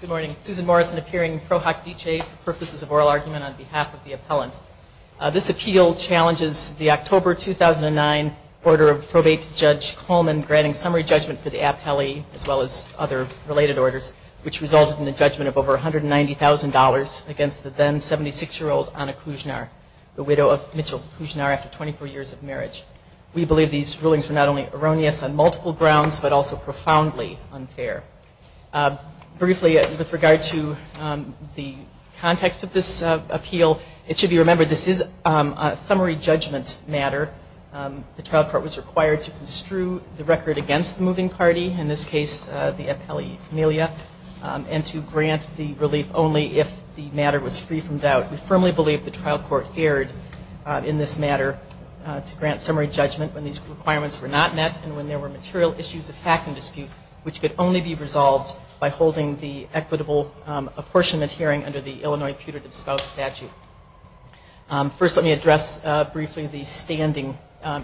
Good morning, Susan Morrison appearing in Pro Hoc Vitae for purposes of oral argument on behalf of the appellant. This appeal challenges the October 2009 order of probate to Judge Coleman granting summary judgment for the appellee as well as other related orders, which resulted in a judgment of over $190,000 against the then 76-year-old Anna Kuznar, the widow of Mitchell Kuznar after 24 years of marriage. We believe these rulings were not only erroneous on multiple grounds, but also profoundly unfair. Briefly with regard to the context of this appeal, it should be remembered this is a summary judgment matter. The trial court was required to construe the record against the moving party, in this case the appellee Amelia, and to grant the relief only if the matter was free from doubt. We firmly believe the trial court erred in this matter to grant summary judgment when these requirements were not met and when there were material issues of fact and dispute, which could only be resolved by holding the equitable apportionment hearing under the Illinois Putrid and Spouse Statute. First let me address briefly the standing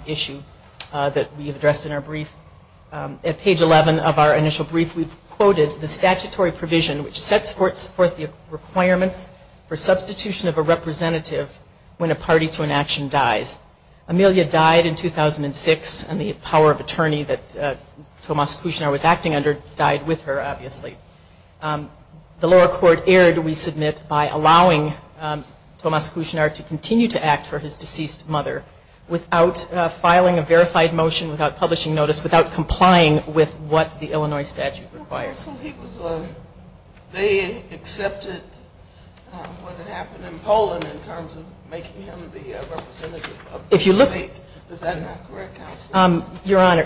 issue that we addressed in our brief. At page 11 of our initial brief we quoted the statutory provision which sets forth the requirements for substitution of a representative when a party to an action dies. Amelia died in 2006 and the power of attorney that Tomas Kuznar was acting under died with her obviously. The lower court erred, we submit, by allowing Tomas Kuznar to continue to act for his deceased mother without filing a verified motion, without publishing notice, without complying with what the Illinois statute requires. They accepted what happened in Poland in terms of making him the representative of the state.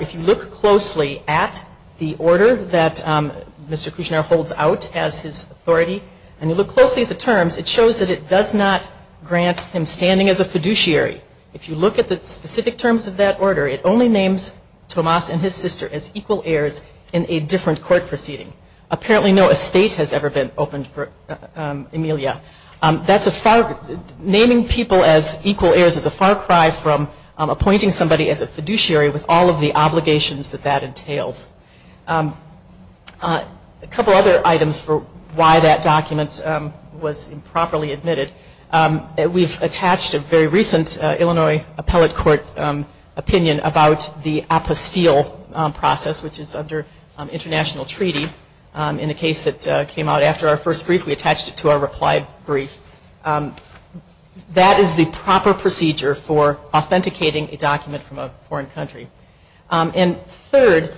If you look closely at the order that Mr. Kuznar holds out as his authority and you look at the specific terms of that order, it only names Tomas and his sister as equal heirs in a different court proceeding. Apparently no estate has ever been opened for Amelia. Naming people as equal heirs is a far cry from appointing somebody as a fiduciary with all of the obligations that that entails. A couple other items for why that document was improperly admitted. We've attached a very recent Illinois appellate court opinion about the Apostille process which is under international treaty. In the case that came out after our first brief we attached it to our reply brief. That is the proper procedure for authenticating a document from a foreign country. Third,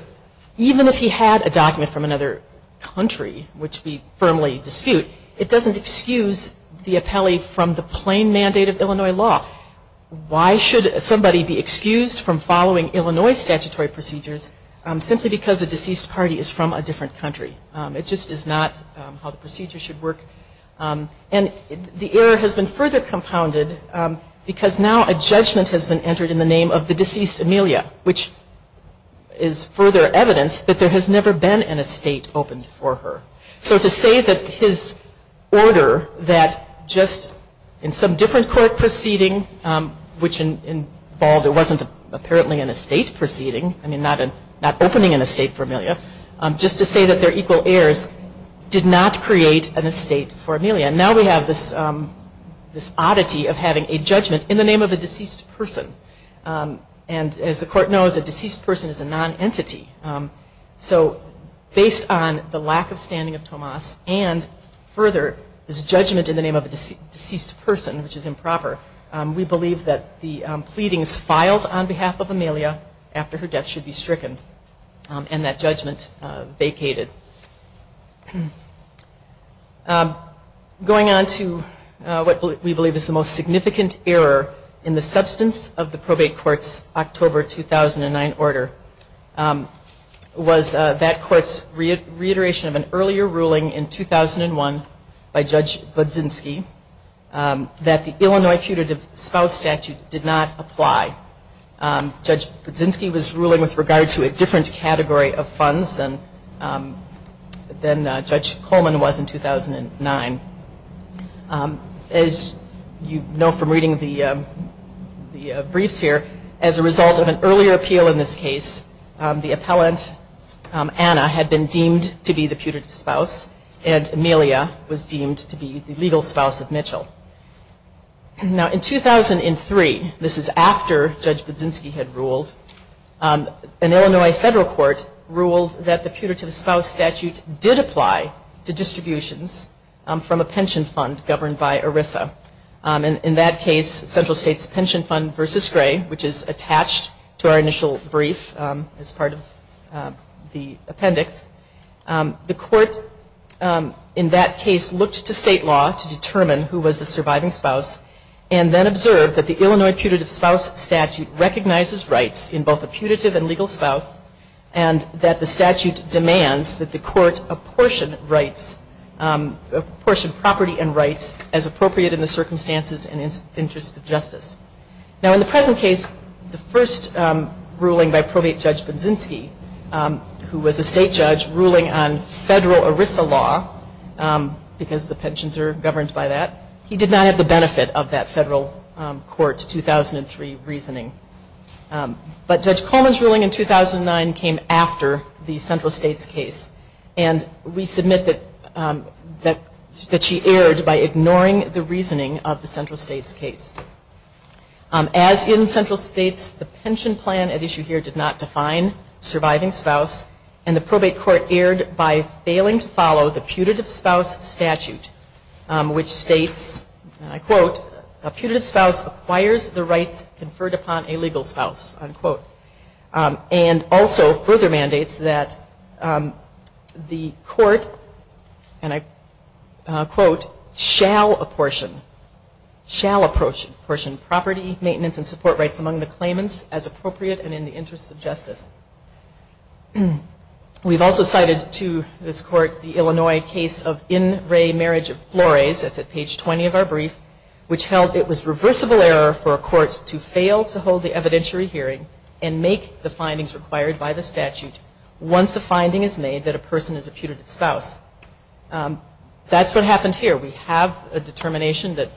even if he had a document from another country which we firmly dispute, it doesn't excuse the appellee from the plain mandate of Illinois law. Why should somebody be excused from following Illinois statutory procedures simply because a deceased party is from a different country? It just is not how the procedure should work. The error has been further compounded because now a judgment has been entered in the name of the deceased Amelia, which is further evidence that there has never been an estate opened for her. So to say that his order that just in some different court proceeding which involved it wasn't apparently an estate proceeding, I mean not opening an estate for Amelia, just to say that they're equal heirs did not create an estate for Amelia. Now we have this oddity of having a judgment in the name of a deceased person. And as the court knows a deceased person is a non-entity. So based on the lack of standing of Tomas and further this judgment in the name of a deceased person which is improper, we believe that the pleadings filed on behalf of Amelia after her death should be stricken and that judgment vacated. Going on to what we believe is the most significant error in the substance of the probate court's October 2009 order was that court's reiteration of an earlier ruling in 2001 by Judge Budzinski that the Illinois putative spouse statute did not apply. Judge Budzinski was ruling with regard to a different category of funds than Judge Coleman was in 2009. As you know from reading the briefs here, as a result of an earlier appeal in this case, the appellant Anna had been deemed to be the putative spouse and Amelia was deemed to be the legal spouse of Mitchell. Now in 2003, this is after Judge Budzinski had ruled, an Illinois federal court ruled that the putative spouse statute did apply to distributions from a pension fund governed by ERISA. In that case, Central States Pension Fund v. Gray, which is attached to our initial brief as part of the appendix, the court in that case looked to state law to determine who was the surviving spouse and then observed that the Illinois putative spouse statute recognizes rights in both the putative and legal spouse and that the statute demands that the court apportion rights, apportion property and rights as appropriate in the circumstances and interests of justice. Now in the present case, the first ruling by probate Judge Budzinski, who was a state judge ruling on federal ERISA law, because the pensions are governed by that, he did not have the benefit of that federal court's 2003 reasoning. But Judge Coleman's ruling in 2009 came after the Central States case and we submit that she erred by ignoring the reasoning of the Central States case. As in Central States, the pension plan at issue here did not define surviving spouse and the probate court erred by failing to follow the putative spouse statute, which states, and I quote, a putative spouse acquires the rights conferred upon a legal spouse, and also further mandates that the court, and I quote, shall apportion property, maintenance and support rights among the claimants as appropriate and in the interests of justice. We've also cited to this court the Illinois case of in re marriage of Flores, that's at page 20 of our brief, which held it was reversible error for a court to fail to hold the evidentiary hearing and make the findings required by the statute once the finding is made that a person is a putative spouse. That's what happened here. We have a determination that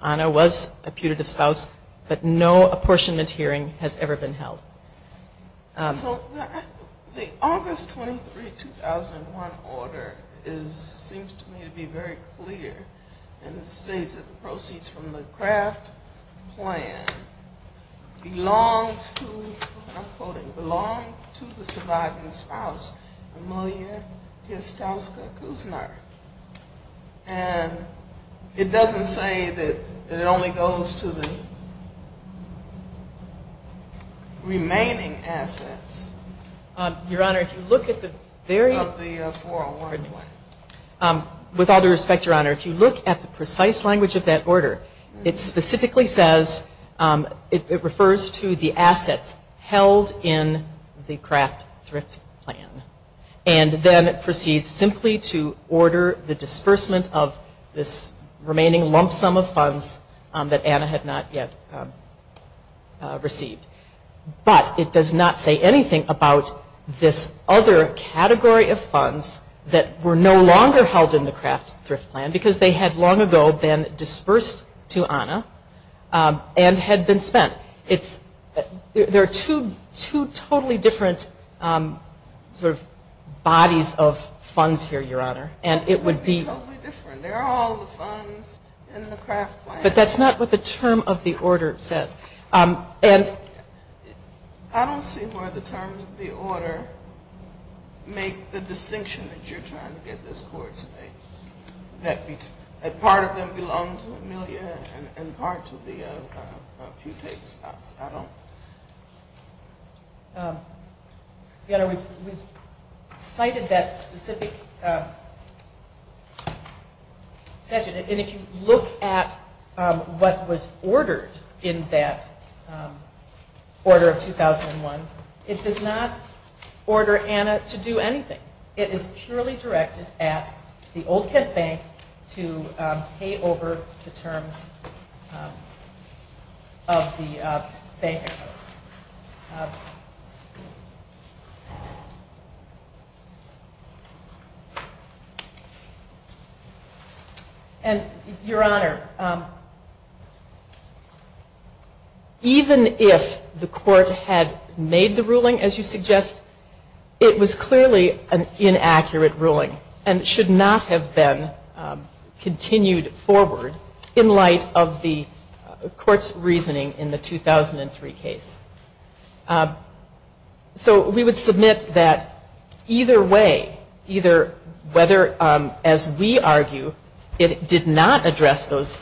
Anna was a putative spouse, but no apportionment hearing has ever been held. So the August 23, 2001 order seems to me to be very clear and it states that the proceeds from the Kraft plan belong to, and I'm quoting, belong to the surviving spouse, Amelia Kostowska Kusner. And it doesn't say that it only goes to the remaining assets. Your Honor, if you look at the very, with all due respect, Your Honor, if you look at the precise language of that order, it specifically says, it refers to the assets held in the order, the disbursement of this remaining lump sum of funds that Anna had not yet received. But it does not say anything about this other category of funds that were no longer held in the Kraft Thrift Plan because they had long ago been dispersed to Anna and had been spent. It's, there are two totally different sort of bodies of funds here, Your Honor, and it would be. That would be totally different. There are all the funds in the Kraft plan. But that's not what the term of the order says. I don't see why the terms of the order make the distinction that you're trying to get this court to make. That part of them belong to Amelia and part of them are putate spots. I don't. Your Honor, we've cited that specific section. And if you look at what was ordered in that order of 2001, it does not order Anna to do anything. It is purely directed at the Old Kent Bank to pay over the terms of the bank account. And Your Honor, even if the court had made the ruling, as you suggest, it was clearly an inaccurate ruling and should not have been continued forward in light of the court's reasoning in the 2003 case. So we would submit that either way, either whether, as we argue, it did not address those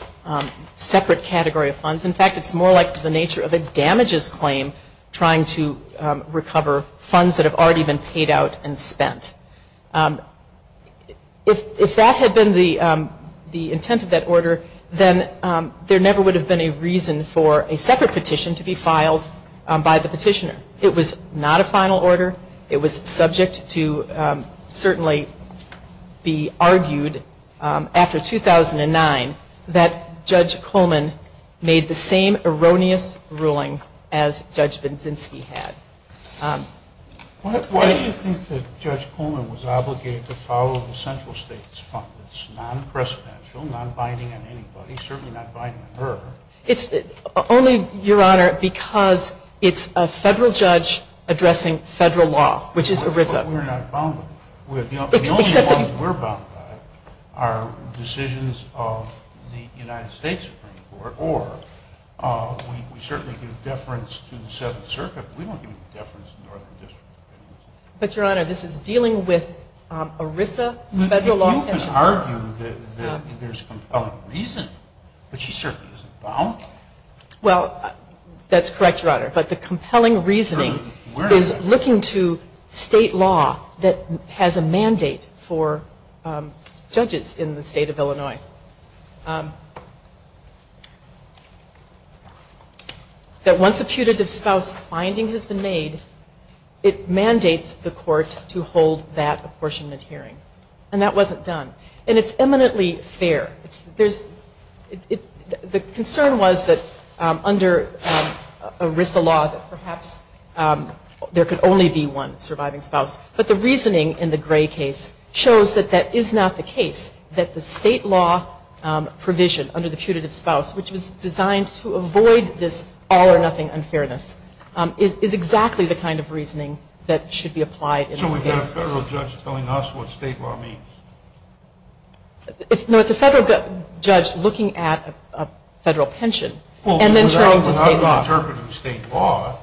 separate category of funds. In fact, it's more like the nature of a damages claim trying to recover funds that have already been paid out and spent. If that had been the intent of that order, then there never would have been a reason for a separate petition to be filed by the petitioner. It was not a final order. It was subject to certainly be argued after 2009 that Judge Coleman made the same erroneous ruling as Judge Binsinski had. Why did you think that Judge Coleman was obligated to follow the central state's fund? It's non-presidential, non-binding on anybody, certainly not binding on her. Only, Your Honor, because it's a federal judge addressing federal law, which is ERISA. But we're not bound by it. The only ones we're bound by are decisions of the United States Supreme Court, or we certainly give deference to the Seventh Circuit. We don't give deference to the Northern District. But, Your Honor, this is dealing with ERISA federal law petitions. You can argue that there's compelling reason, but she certainly isn't bound. Well, that's correct, Your Honor, but the compelling reasoning is looking to state law that once a putative spouse finding has been made, it mandates the court to hold that apportionment hearing, and that wasn't done. And it's eminently fair. The concern was that under ERISA law that perhaps there could only be one surviving spouse, but the reasoning in the Gray case shows that that is not the case, that the state law provision under the putative spouse, which was designed to avoid this all-or-nothing unfairness, is exactly the kind of reasoning that should be applied in this case. So we've got a federal judge telling us what state law means? No, it's a federal judge looking at a federal pension and then turning to state law. Well, without the interpretive state law,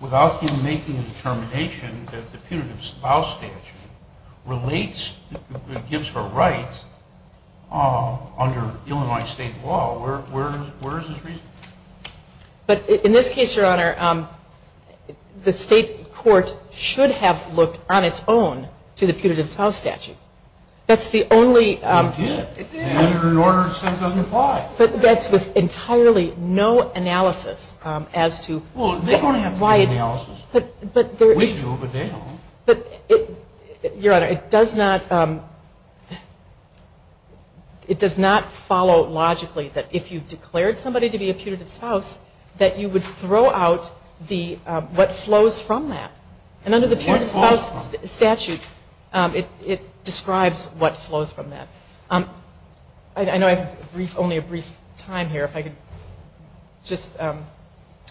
without him making a determination that the state law, under Illinois state law, where is his reasoning? But in this case, Your Honor, the state court should have looked on its own to the putative spouse statute. It did. But that's with entirely no analysis as to why. Well, they don't have to do analysis. We do, but they don't. Your Honor, it does not follow logically that if you declared somebody to be a putative spouse, that you would throw out what flows from that. And under the putative spouse statute, it describes what flows from that. I know I have only a brief time here, if I could just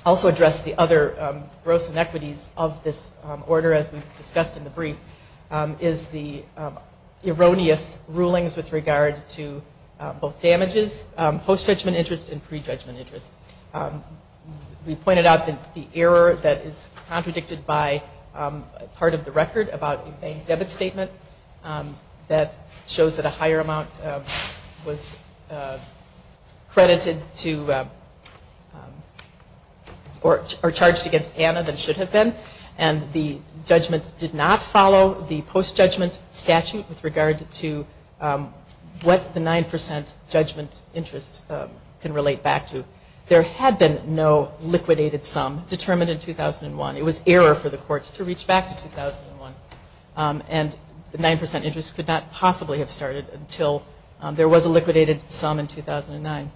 also address the other gross inequities of this order, as we've discussed in the brief, is the erroneous rulings with regard to both damages, post-judgment interest and pre-judgment interest. We pointed out the error that is contradicted by part of the record about a bank debit statement that shows that a higher amount was credited to or charged against Anna than it should have been, and the judgments did not follow the post-judgment statute with regard to what the 9% judgment interest can relate back to. There had been no liquidated sum determined in 2001. It was error for the courts to reach back to 2001, and the 9% interest could not possibly have started until there was a liquidated sum in 2009.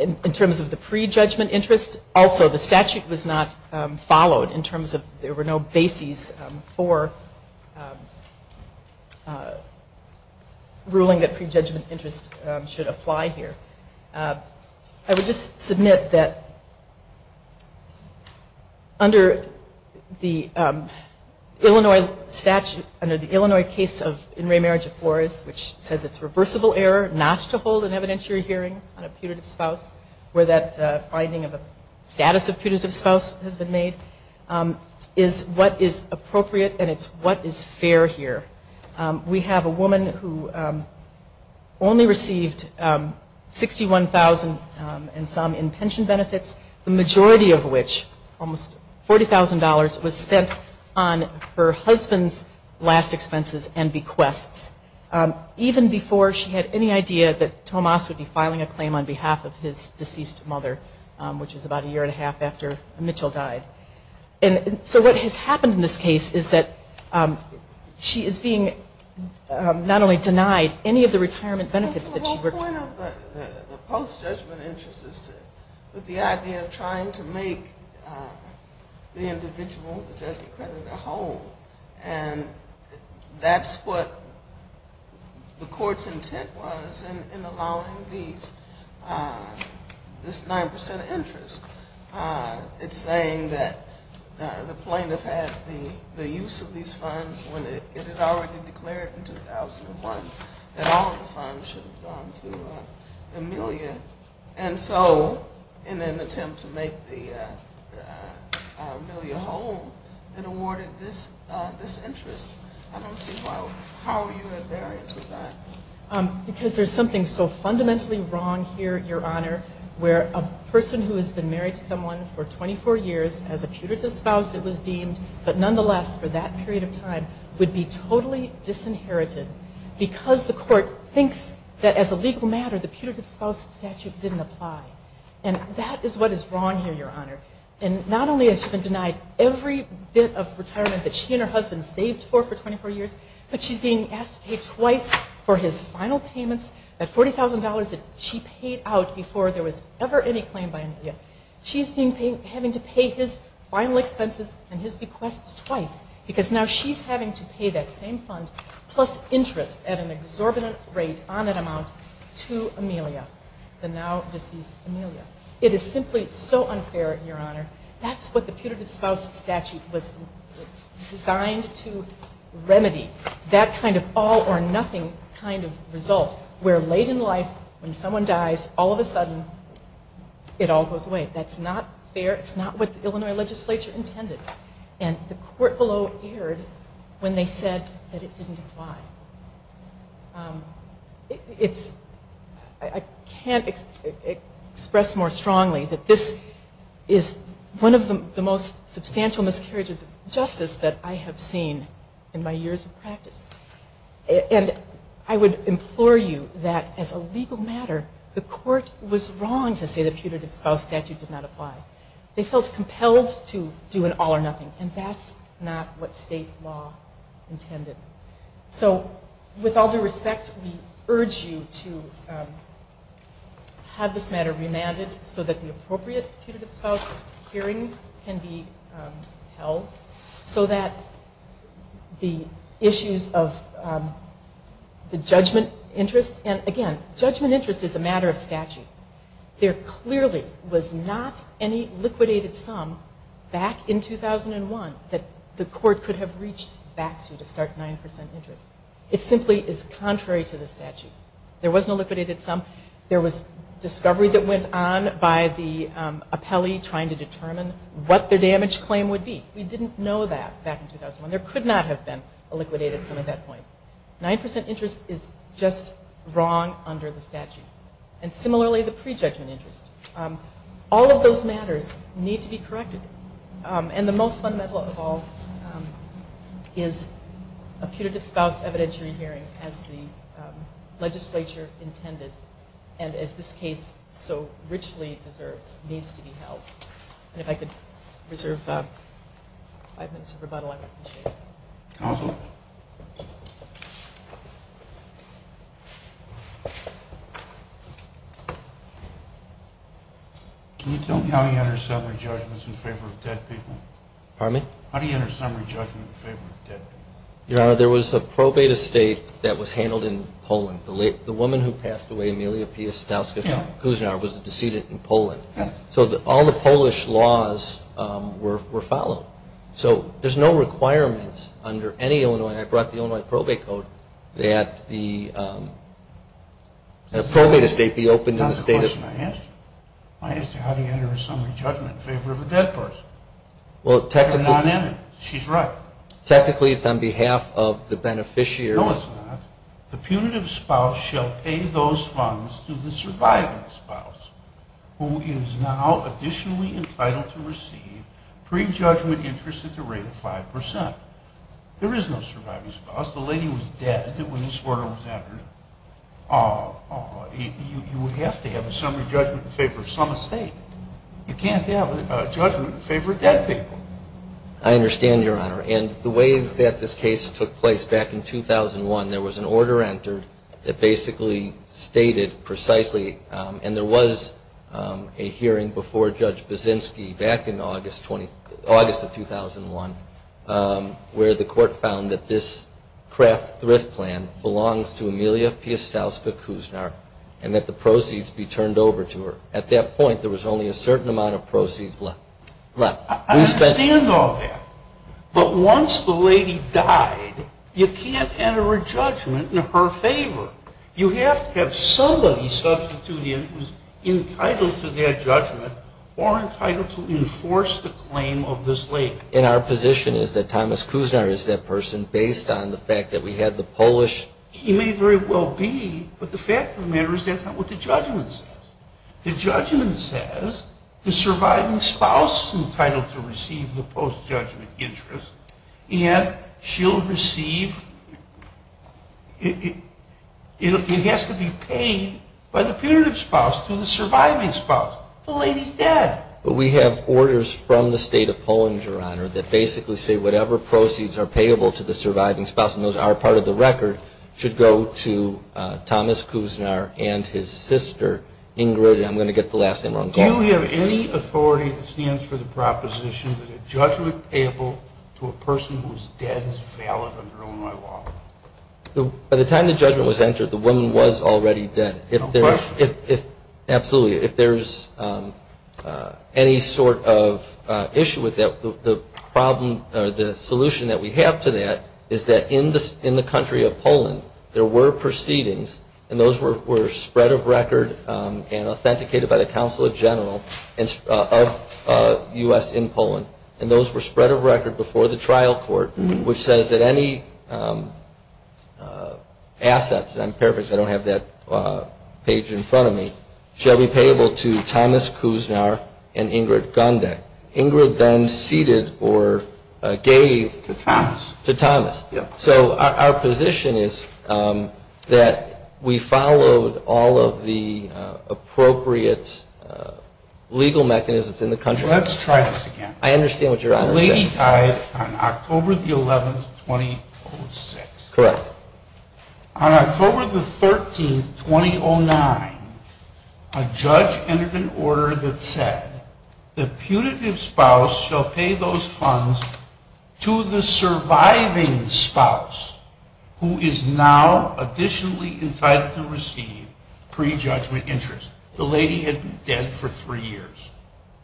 In terms of the pre-judgment interest, also the statute was not followed in terms of there were no bases for ruling that pre-judgment interest should apply here. I would just submit that under the Illinois statute, under the Illinois case of in-ray marriage of Flores, which says it's reversible error not to hold an evidentiary hearing on a putative spouse, where that finding of a status of putative spouse has been made, is what is appropriate and it's what is fair here. We have a woman who only received $61,000 and some in pension benefits, the majority of which, almost $40,000, was spent on her husband's last expenses and bequests. Even before she had any idea that Tomas would be filing a claim on behalf of his deceased mother, which was about a year and a half after Mitchell died. So what has happened in this case is that she is being not only denied any of the retirement benefits that she worked for. The whole point of the post-judgment interest is the idea of trying to make the individual home, the judge accredited home, and that's what the court's intent was in allowing this 9% interest. It's saying that the plaintiff had the use of these funds when it had already declared in 2001 that all of the funds should have gone to Amelia, and so in an attempt to make the Amelia home, it awarded this interest. I don't see how you are bearing with that. Because there's something so fundamentally wrong here, Your Honor, where a person who has been married to someone for 24 years, as a putative spouse it was deemed, but nonetheless for that period of time, would be totally disinherited because the court thinks that as a legal matter, the putative spouse statute didn't apply. And that is what is wrong here, Your Honor. And not only has she been denied every bit of retirement that she and her husband saved for for 24 years, but she's being asked to pay twice for his final payments, that $40,000 that she paid out before there was ever any claim by Amelia. She's having to pay his final expenses and his requests twice, because now she's having to pay that same fund plus interest at an exorbitant rate on that amount to Amelia, the now deceased Amelia. It is simply so unfair, Your Honor. That's what the putative spouse statute was designed to remedy, that kind of all or nothing kind of result, where late in life, when someone dies, all of a sudden, it all goes away. That's not fair. It's not what the Illinois legislature intended. And the court below erred when they said that it didn't apply. I can't express more strongly that this is one of the most substantial miscarriages of justice that I have seen in my years of practice. And I would implore you that as a legal matter, the court was wrong to say the putative spouse statute did not apply. They felt compelled to do an all or nothing. And that's not what state law intended. So with all due respect, we urge you to have this matter remanded so that the appropriate putative spouse hearing can be held, so that the issues of the judgment interest, and again, judgment interest is a matter of statute. There clearly was not any liquidated sum back in 2001 that the court could have reached back to start 9% interest. It simply is contrary to the statute. There was no liquidated sum. There was discovery that went on by the appellee trying to determine what their damage claim would be. We didn't know that back in 2001. There could not have been a liquidated sum at that point. 9% interest is just wrong under the statute. And similarly, the prejudgment interest. All of those matters need to be corrected. And the most fundamental of all is a putative spouse evidentiary hearing as the legislature intended, and as this case so richly deserves, needs to be held. And if I could reserve five minutes of rebuttal, I would appreciate it. Can you tell me how he enters summary judgments in favor of dead people? Your Honor, there was a probate estate that was handled in Poland. The woman who passed away, Amelia Pia Stauska-Kuznar, was a decedent in Poland. So all the Polish laws were followed. So there's no requirement under any Illinois, and I brought the Illinois probate code, that a probate estate be opened in the state of... I asked you how do you enter a summary judgment in favor of a dead person? Well, technically... No, it's not. The punitive spouse shall pay those funds to the surviving spouse, who is now additionally entitled to receive prejudgment interest at the rate of 5%. There is no surviving spouse. The lady was dead when this order was entered. You have to have a summary judgment in favor of some estate. You can't have a judgment in favor of dead people. I understand, Your Honor, and the way that this case took place back in 2001, there was an order entered that basically stated precisely, and there was a hearing before Judge Baczynski back in August of 2001, where the court found that this craft thrift plan belongs to Amelia Pia Stauska-Kuznar and that the proceeds be turned over to her. At that point, there was only a certain amount of proceeds left. I understand all that, but once the lady died, you can't enter a judgment in her favor. You have to have somebody substitute in who's entitled to that judgment or entitled to enforce the claim of this lady. And our position is that Thomas Kuznar is that person based on the fact that we had the Polish... He may very well be, but the fact of the matter is that's not what the judgment says. The judgment says the surviving spouse is entitled to receive the post-judgment interest and she'll receive... It has to be paid by the punitive spouse to the surviving spouse. The lady's dead. But we have orders from the state of Poland, Your Honor, that basically say whatever proceeds are payable to the surviving spouse, and those are part of the record, should go to Thomas Kuznar and his sister Ingrid... Do you have any authority that stands for the proposition that a judgment payable to a person who's dead is valid under Illinois law? By the time the judgment was entered, the woman was already dead. Absolutely. If there's any sort of issue with that, the solution that we have to that is that in the country of Poland, there were proceedings, and those were spread of record and authenticated by the council of general of U.S. in Poland, and those were spread of record before the trial court, which says that any assets, and I'm paraphrasing, I don't have that page in front of me, shall be payable to Thomas Kuznar and Ingrid Gundek. Ingrid then ceded or gave... That we followed all of the appropriate legal mechanisms in the country. Let's try this again. The lady died on October the 11th, 2006. Correct. On October the 13th, 2009, a judge entered an order that said the putative spouse shall pay those funds to the surviving spouse, now additionally entitled to receive prejudgment interest. The lady had been dead for three years.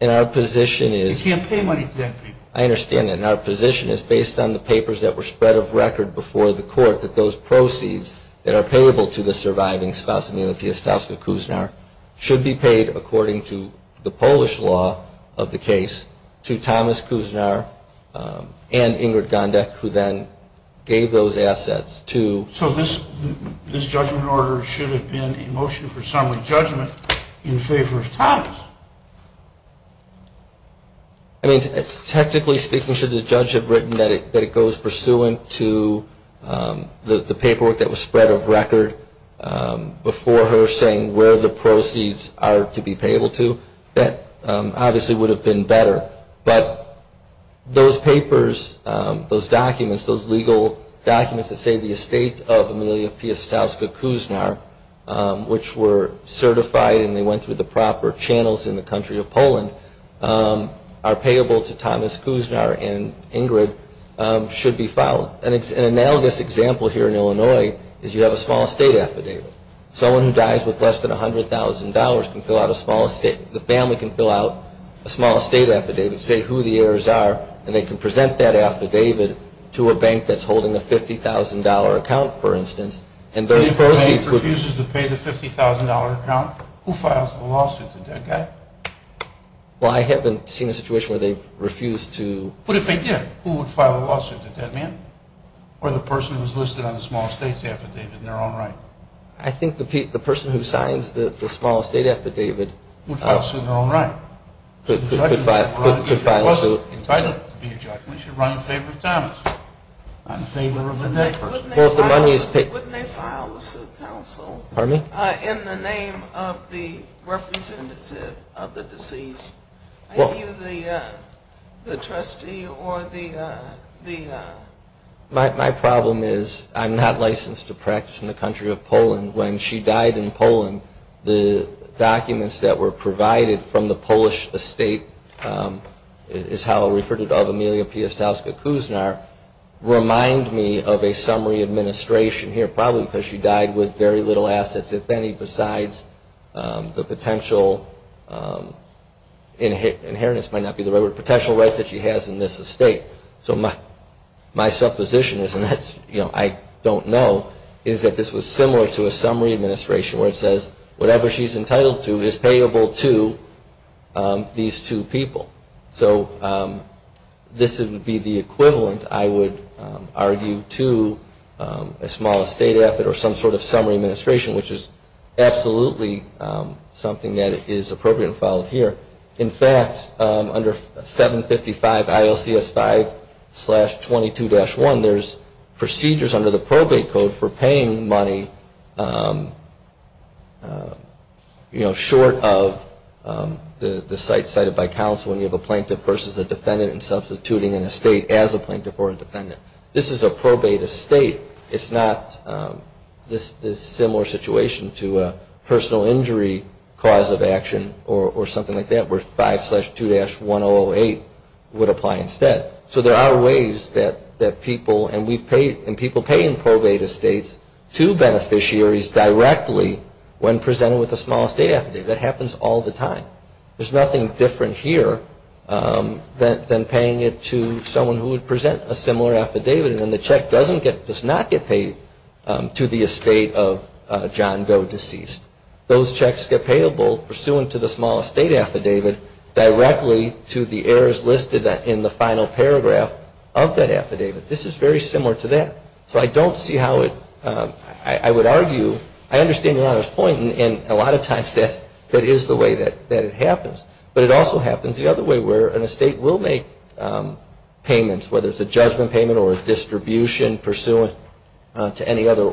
You can't pay money to dead people. I understand that. And our position is based on the papers that were spread of record before the court that those proceeds that are payable to the surviving spouse, should be paid according to the Polish law of the case to Thomas Kuznar and Ingrid Gundek, who then gave those assets to... So this judgment order should have been a motion for summary judgment in favor of Thomas. Technically speaking, should the judge have written that it goes pursuant to the paperwork that was spread of record before the court for her saying where the proceeds are to be payable to? That obviously would have been better. But those papers, those documents, those legal documents that say the estate of Amelia Piastowska Kuznar, which were certified and they went through the proper channels in the country of Poland, are payable to Thomas Kuznar and Ingrid, should be filed. An analogous example here in Illinois is you have a small estate affidavit. Someone who dies with less than $100,000 can fill out a small estate... The family can fill out a small estate affidavit, say who the heirs are, and they can present that affidavit to a bank that's holding a $50,000 account, for instance. If the bank refuses to pay the $50,000 account, who files the lawsuit to the dead guy? Well, I haven't seen a situation where they've refused to... But if they did, who would file a lawsuit? The dead man? Or the person who's listed on the small estate affidavit in their own right? I think the person who signs the small estate affidavit... Could file a suit. If he wasn't entitled to be a judge, we should run in favor of Thomas. Not in favor of the dead person. In the name of the representative of the deceased, are you the trustee or the... My problem is I'm not licensed to practice in the country of Poland. When she died in Poland, the documents that were provided from the Polish estate is how I'll refer to it. Remind me of a summary administration here, probably because she died with very little assets, if any, besides the potential... Inheritance might not be the right word, potential rights that she has in this estate. So my supposition is, and I don't know, is that this was similar to a summary administration where it says, whatever she's entitled to is payable to these two people. So this would be the equivalent, I would argue, to a small estate affidavit or some sort of summary administration, which is absolutely something that is appropriate and followed here. In fact, under 755 ILCS 5-22-1, there's procedures under the probate code for paying money, you know, short of the site cited by counsel when you have a plaintiff versus a defendant and substituting an estate as a plaintiff or a defendant. This is a probate estate. It's not this similar situation to a personal injury cause of action or something like that where 5-2-1008 would apply instead. So there are ways that people, and people pay in probate estates to beneficiaries directly when presented with a small estate affidavit. That happens all the time. There's nothing different here than paying it to someone who would present a similar affidavit and the check does not get paid to the estate of John Doe deceased. Those checks get payable pursuant to the small estate affidavit directly to the errors listed in the final paragraph of that affidavit. This is very similar to that. I understand Your Honor's point, and a lot of times that is the way that it happens. But it also happens the other way where an estate will make payments, whether it's a judgment payment or a distribution pursuant to any other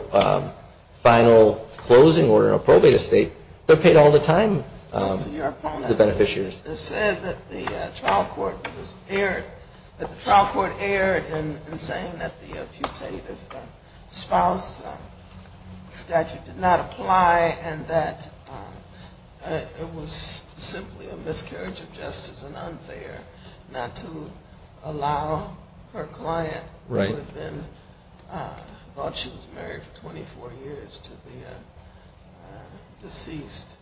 final closing order in a probate estate, they're paid all the time to the beneficiaries. It's said that the trial court erred in saying that the putative spouse statute did not apply and that it was simply a miscarriage of justice and unfair not to allow her client who had been, thought she was married for 24 years to the deceased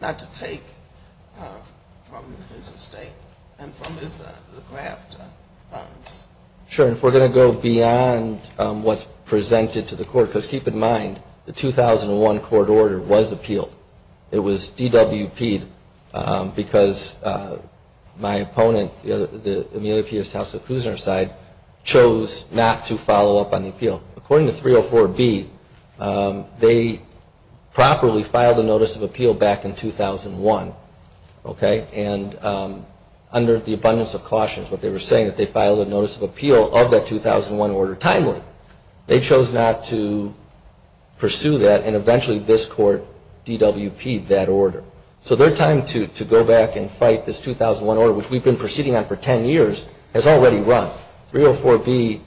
not to take from his estate and from his graft funds. Sure, and if we're going to go beyond what's presented to the court, because keep in mind the 2001 court order was appealed. It was DWP'd because my opponent, the Amelia Pierce Towson Kusner side, chose not to follow up on the appeal. According to 304B, they properly filed a notice of appeal back in 2001, and under the abundance of cautions, what they were saying, that they filed a notice of appeal of that 2001 order timely. They chose not to pursue that and eventually this court DWP'd that order. So their time to go back and fight this 2001 order, which we've been proceeding on for 10 years, has already run. 304B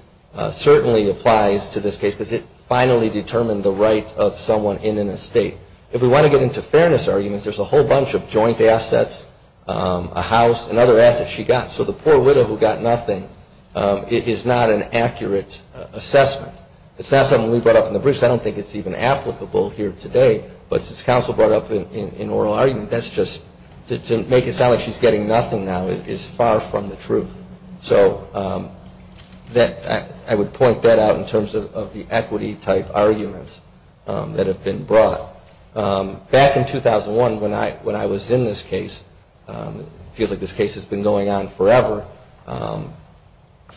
certainly applies to this case because it finally determined the right of someone in an estate. If we want to get into fairness arguments, there's a whole bunch of joint assets, a house, and other assets she got. So the poor widow who got nothing is not an accurate assessment. It's not something we brought up in the briefs. I don't think it's even applicable here today, but since counsel brought up in oral argument, that's just to make it sound like she's getting nothing now is far from the truth. So I would point that out in terms of the equity type arguments that have been brought. Back in 2001 when I was in this case, it feels like this case has been going on forever,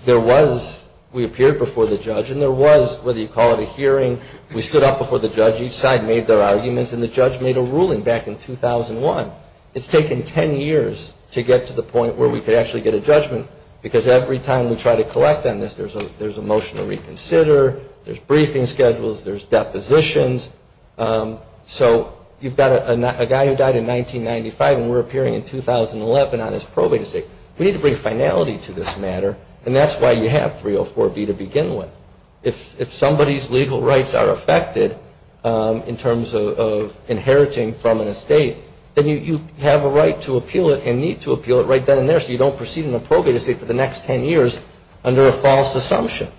there was, we appeared before the judge and there was, whether you call it a hearing, we stood up before the judge, each side made their arguments, and the judge made a ruling back in 2001. It's taken 10 years to get to the point where we could actually get a judgment because every time we try to collect on this, there's a motion to reconsider, there's briefing schedules, there's depositions. So you've got a guy who died in 1995 and we're appearing in 2011 on his probate estate. We need to bring finality to this matter and that's why you have 304B to begin with. If somebody's legal rights are affected in terms of inheriting from an estate, then you have a right to appeal it and need to appeal it right then and there so you don't proceed in a probate estate for the next 10 years under a false assumption.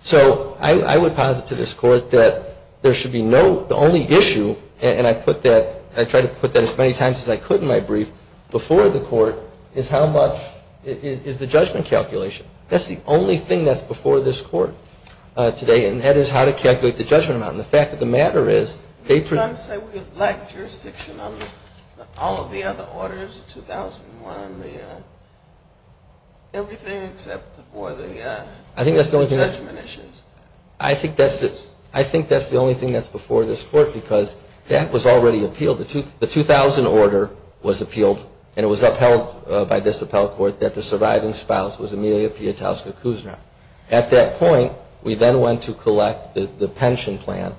So I would posit to this Court that there should be no, the only issue, and I put that, I tried to put that as many times as I could in my brief, before the Court, is how much, is the judgment calculation. That's the only thing that's before this Court today and that is how to calculate the judgment amount. And the fact of the matter is... I think that's the only thing that's before this Court because that was already appealed. The 2000 order was appealed and it was upheld by this Appellate Court that the surviving spouse was Amelia Pietowska Kusner. At that point, we then went to collect the pension plan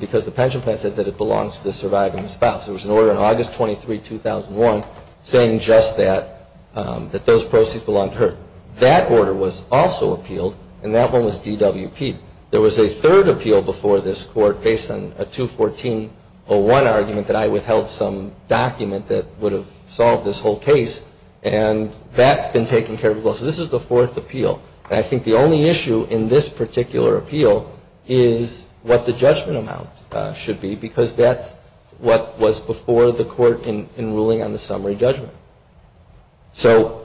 because the pension plan says that it belongs to the surviving spouse. There was an order in August 23, 2001 saying just that, that those proceeds belonged to her. That order was also appealed and that one was DWP. There was a third appeal before this Court based on a 214.01 argument that I withheld some document that would have solved this whole case and that's been taken care of as well. So this is the fourth appeal and I think the only issue in this particular appeal is what the judgment amount should be because that's what was before the Court in ruling on the summary judgment. So...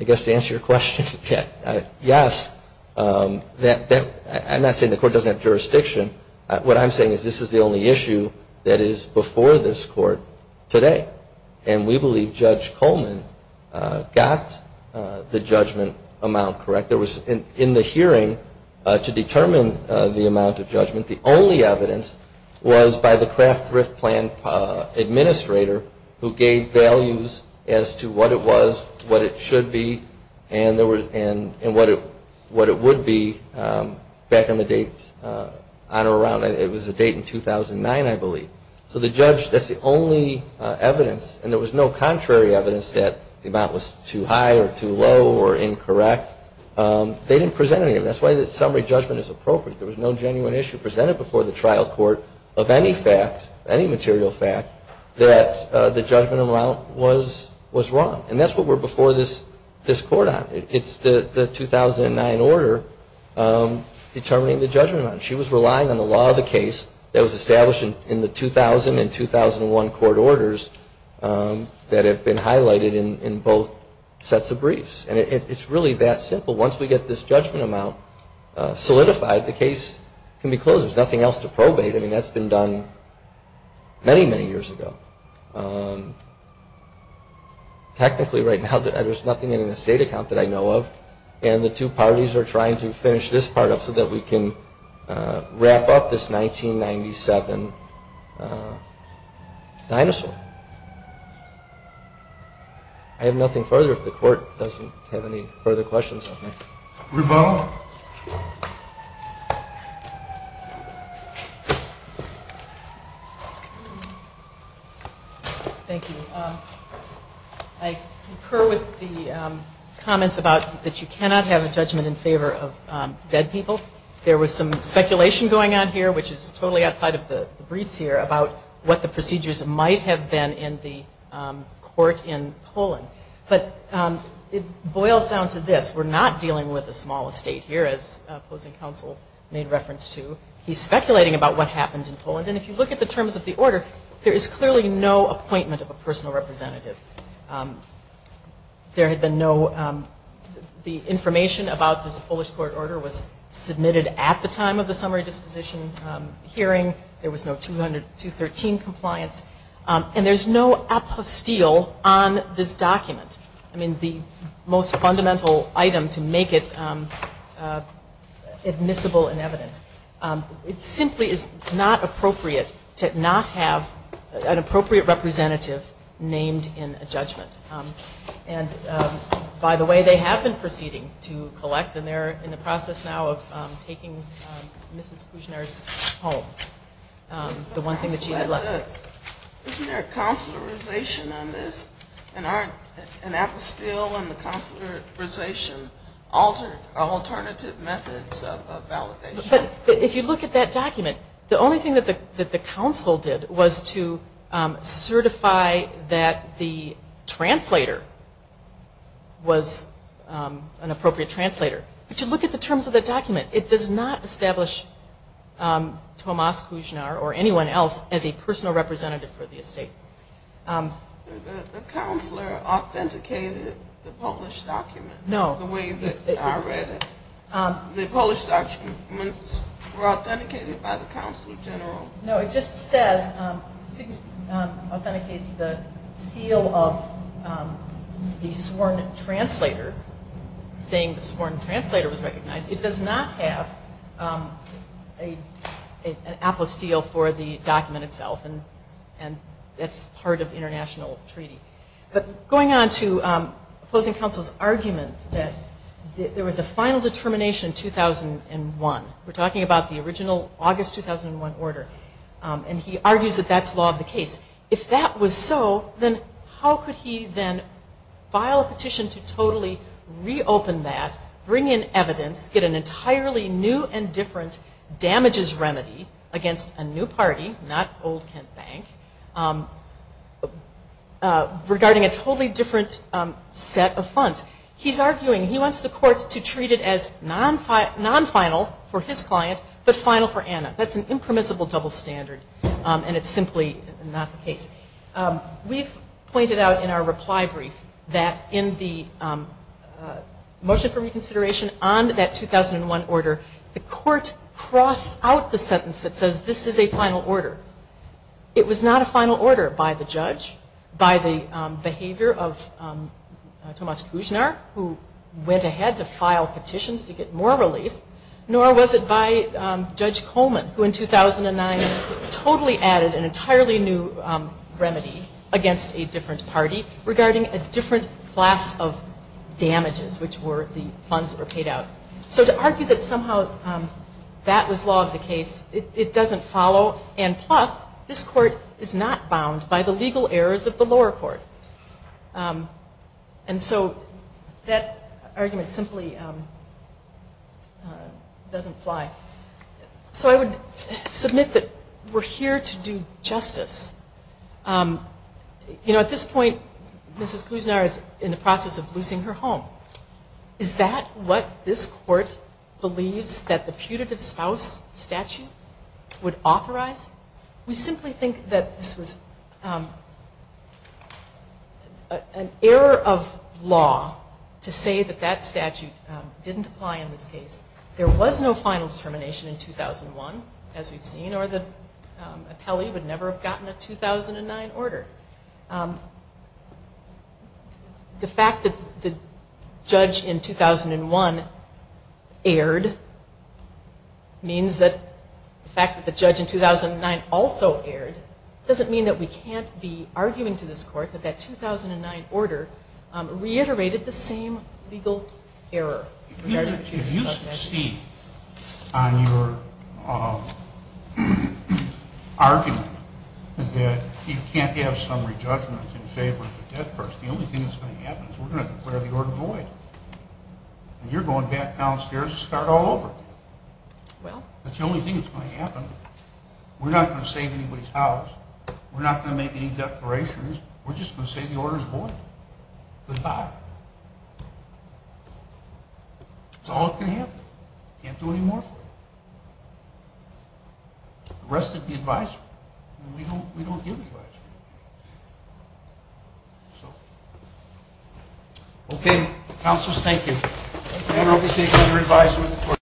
I guess to answer your question, yes. I'm not saying the Court doesn't have jurisdiction. What I'm saying is this is the only issue that is before this Court today and we believe Judge Coleman got the judgment amount correct. There was in the hearing to determine the amount of judgment. The only evidence was by the Kraft Thrift Plan administrator who gave values as to what it was, what it should be, and what it would be back on the date, on or around, it was a date in 2009 I believe. So the judge, that's the only evidence and there was no contrary evidence that the amount was too high or too low or incorrect. They didn't present any of it. That's why the summary judgment is appropriate. There was no genuine issue presented before the trial court of any fact, any material fact, that the judgment amount was wrong. And that's what we're before this Court on. It's the 2009 order determining the judgment amount. She was relying on the law of the case that was established in the 2000 and 2001 court orders that have been highlighted in both sets of briefs. And it's really that simple. Once we get this judgment amount solidified, the case can be closed. There's nothing else to probate. I mean that's been done many, many years ago. Technically right now there's nothing in an estate account that I know of and the two parties are trying to dinosaur. I have nothing further if the Court doesn't have any further questions. Thank you. I concur with the comments about that you cannot have a judgment in favor of dead people. There was some speculation going on here, which is totally outside of the briefs here, about what the procedures might have been in the court in Poland. But it boils down to this. We're not dealing with a small estate here, as opposing counsel made reference to. He's speculating about what happened in Poland. And if you look at the terms of the order, there is clearly no appointment of a personal representative. There had been no the information about this Polish court order was submitted at the time of the summary disposition hearing. There was no 213 compliance. And there's no apostille on this document. I mean the most fundamental item to make it admissible in evidence. It simply is not appropriate to not have an appropriate representative named in a judgment. And by the way, they have been proceeding to collect. And they're in the process now of taking Mrs. Kuzner's home. If you look at that document, the only thing that the counsel did was to look at the terms of the document. It does not establish Tomasz Kuzner or anyone else as a personal representative for the estate. The counselor authenticated the Polish documents the way that I read it. The Polish documents were authenticated by the Counselor General. No, it just says, authenticates the seal of the sworn translator, saying the sworn translator was recognized. It does not have an apostille for the document itself. And that's part of international treaty. But going on to opposing counsel's argument that there was a final determination in 2001. We're talking about the original August 2001 order. And he argues that that's law of the case. If that was so, then how could he then file a petition to totally reopen that, bring in evidence, get an entirely new and different damages remedy against a new party, not Old Kent Bank, regarding a totally different set of funds. He's arguing, he wants the court to treat it as non-final for his client, but final for Anna. That's an impermissible double standard. And it's simply not the case. We've pointed out in our reply brief that in the motion for reconsideration on that 2001 order, the court crossed out the sentence that says this is a final order by the judge, by the behavior of Tomas Kuznar, who went ahead to file petitions to get more relief, nor was it by Judge Coleman, who in 2009 totally added an entirely new remedy against a different party regarding a different class of damages, which were the funds that were paid out. So to argue that somehow that was law of the case, it doesn't follow. And plus, this court is not bound by the legal errors of the lower court. And so that argument simply doesn't fly. So I would submit that we're here to do justice. At this point, Mrs. Kuznar is in the process of losing her home. Is that what this court believes that the putative spouse statute would authorize? We simply think that this was an error of law to say that that statute didn't apply in this case. There was no final determination in 2001, as we've seen, or the appellee would never have gotten a 2009 order. The fact that the judge in 2001 erred means that the fact that the judge in 2009 also erred doesn't mean that we can't be arguing to this court that that 2009 order reiterated the same legal error regarding the putative spouse statute. I see on your argument that you can't have summary judgment in favor of the dead person. The only thing that's going to happen is we're going to declare the order void. And you're going back downstairs to start all over again. That's the only thing that's going to happen. We're not going to save anybody's house. We're not going to make any declarations. We're just going to say the order's void. Goodbye. That's all that can happen. Can't do any more. The rest of the advisory, we don't give advisory. Okay, counselors, thank you.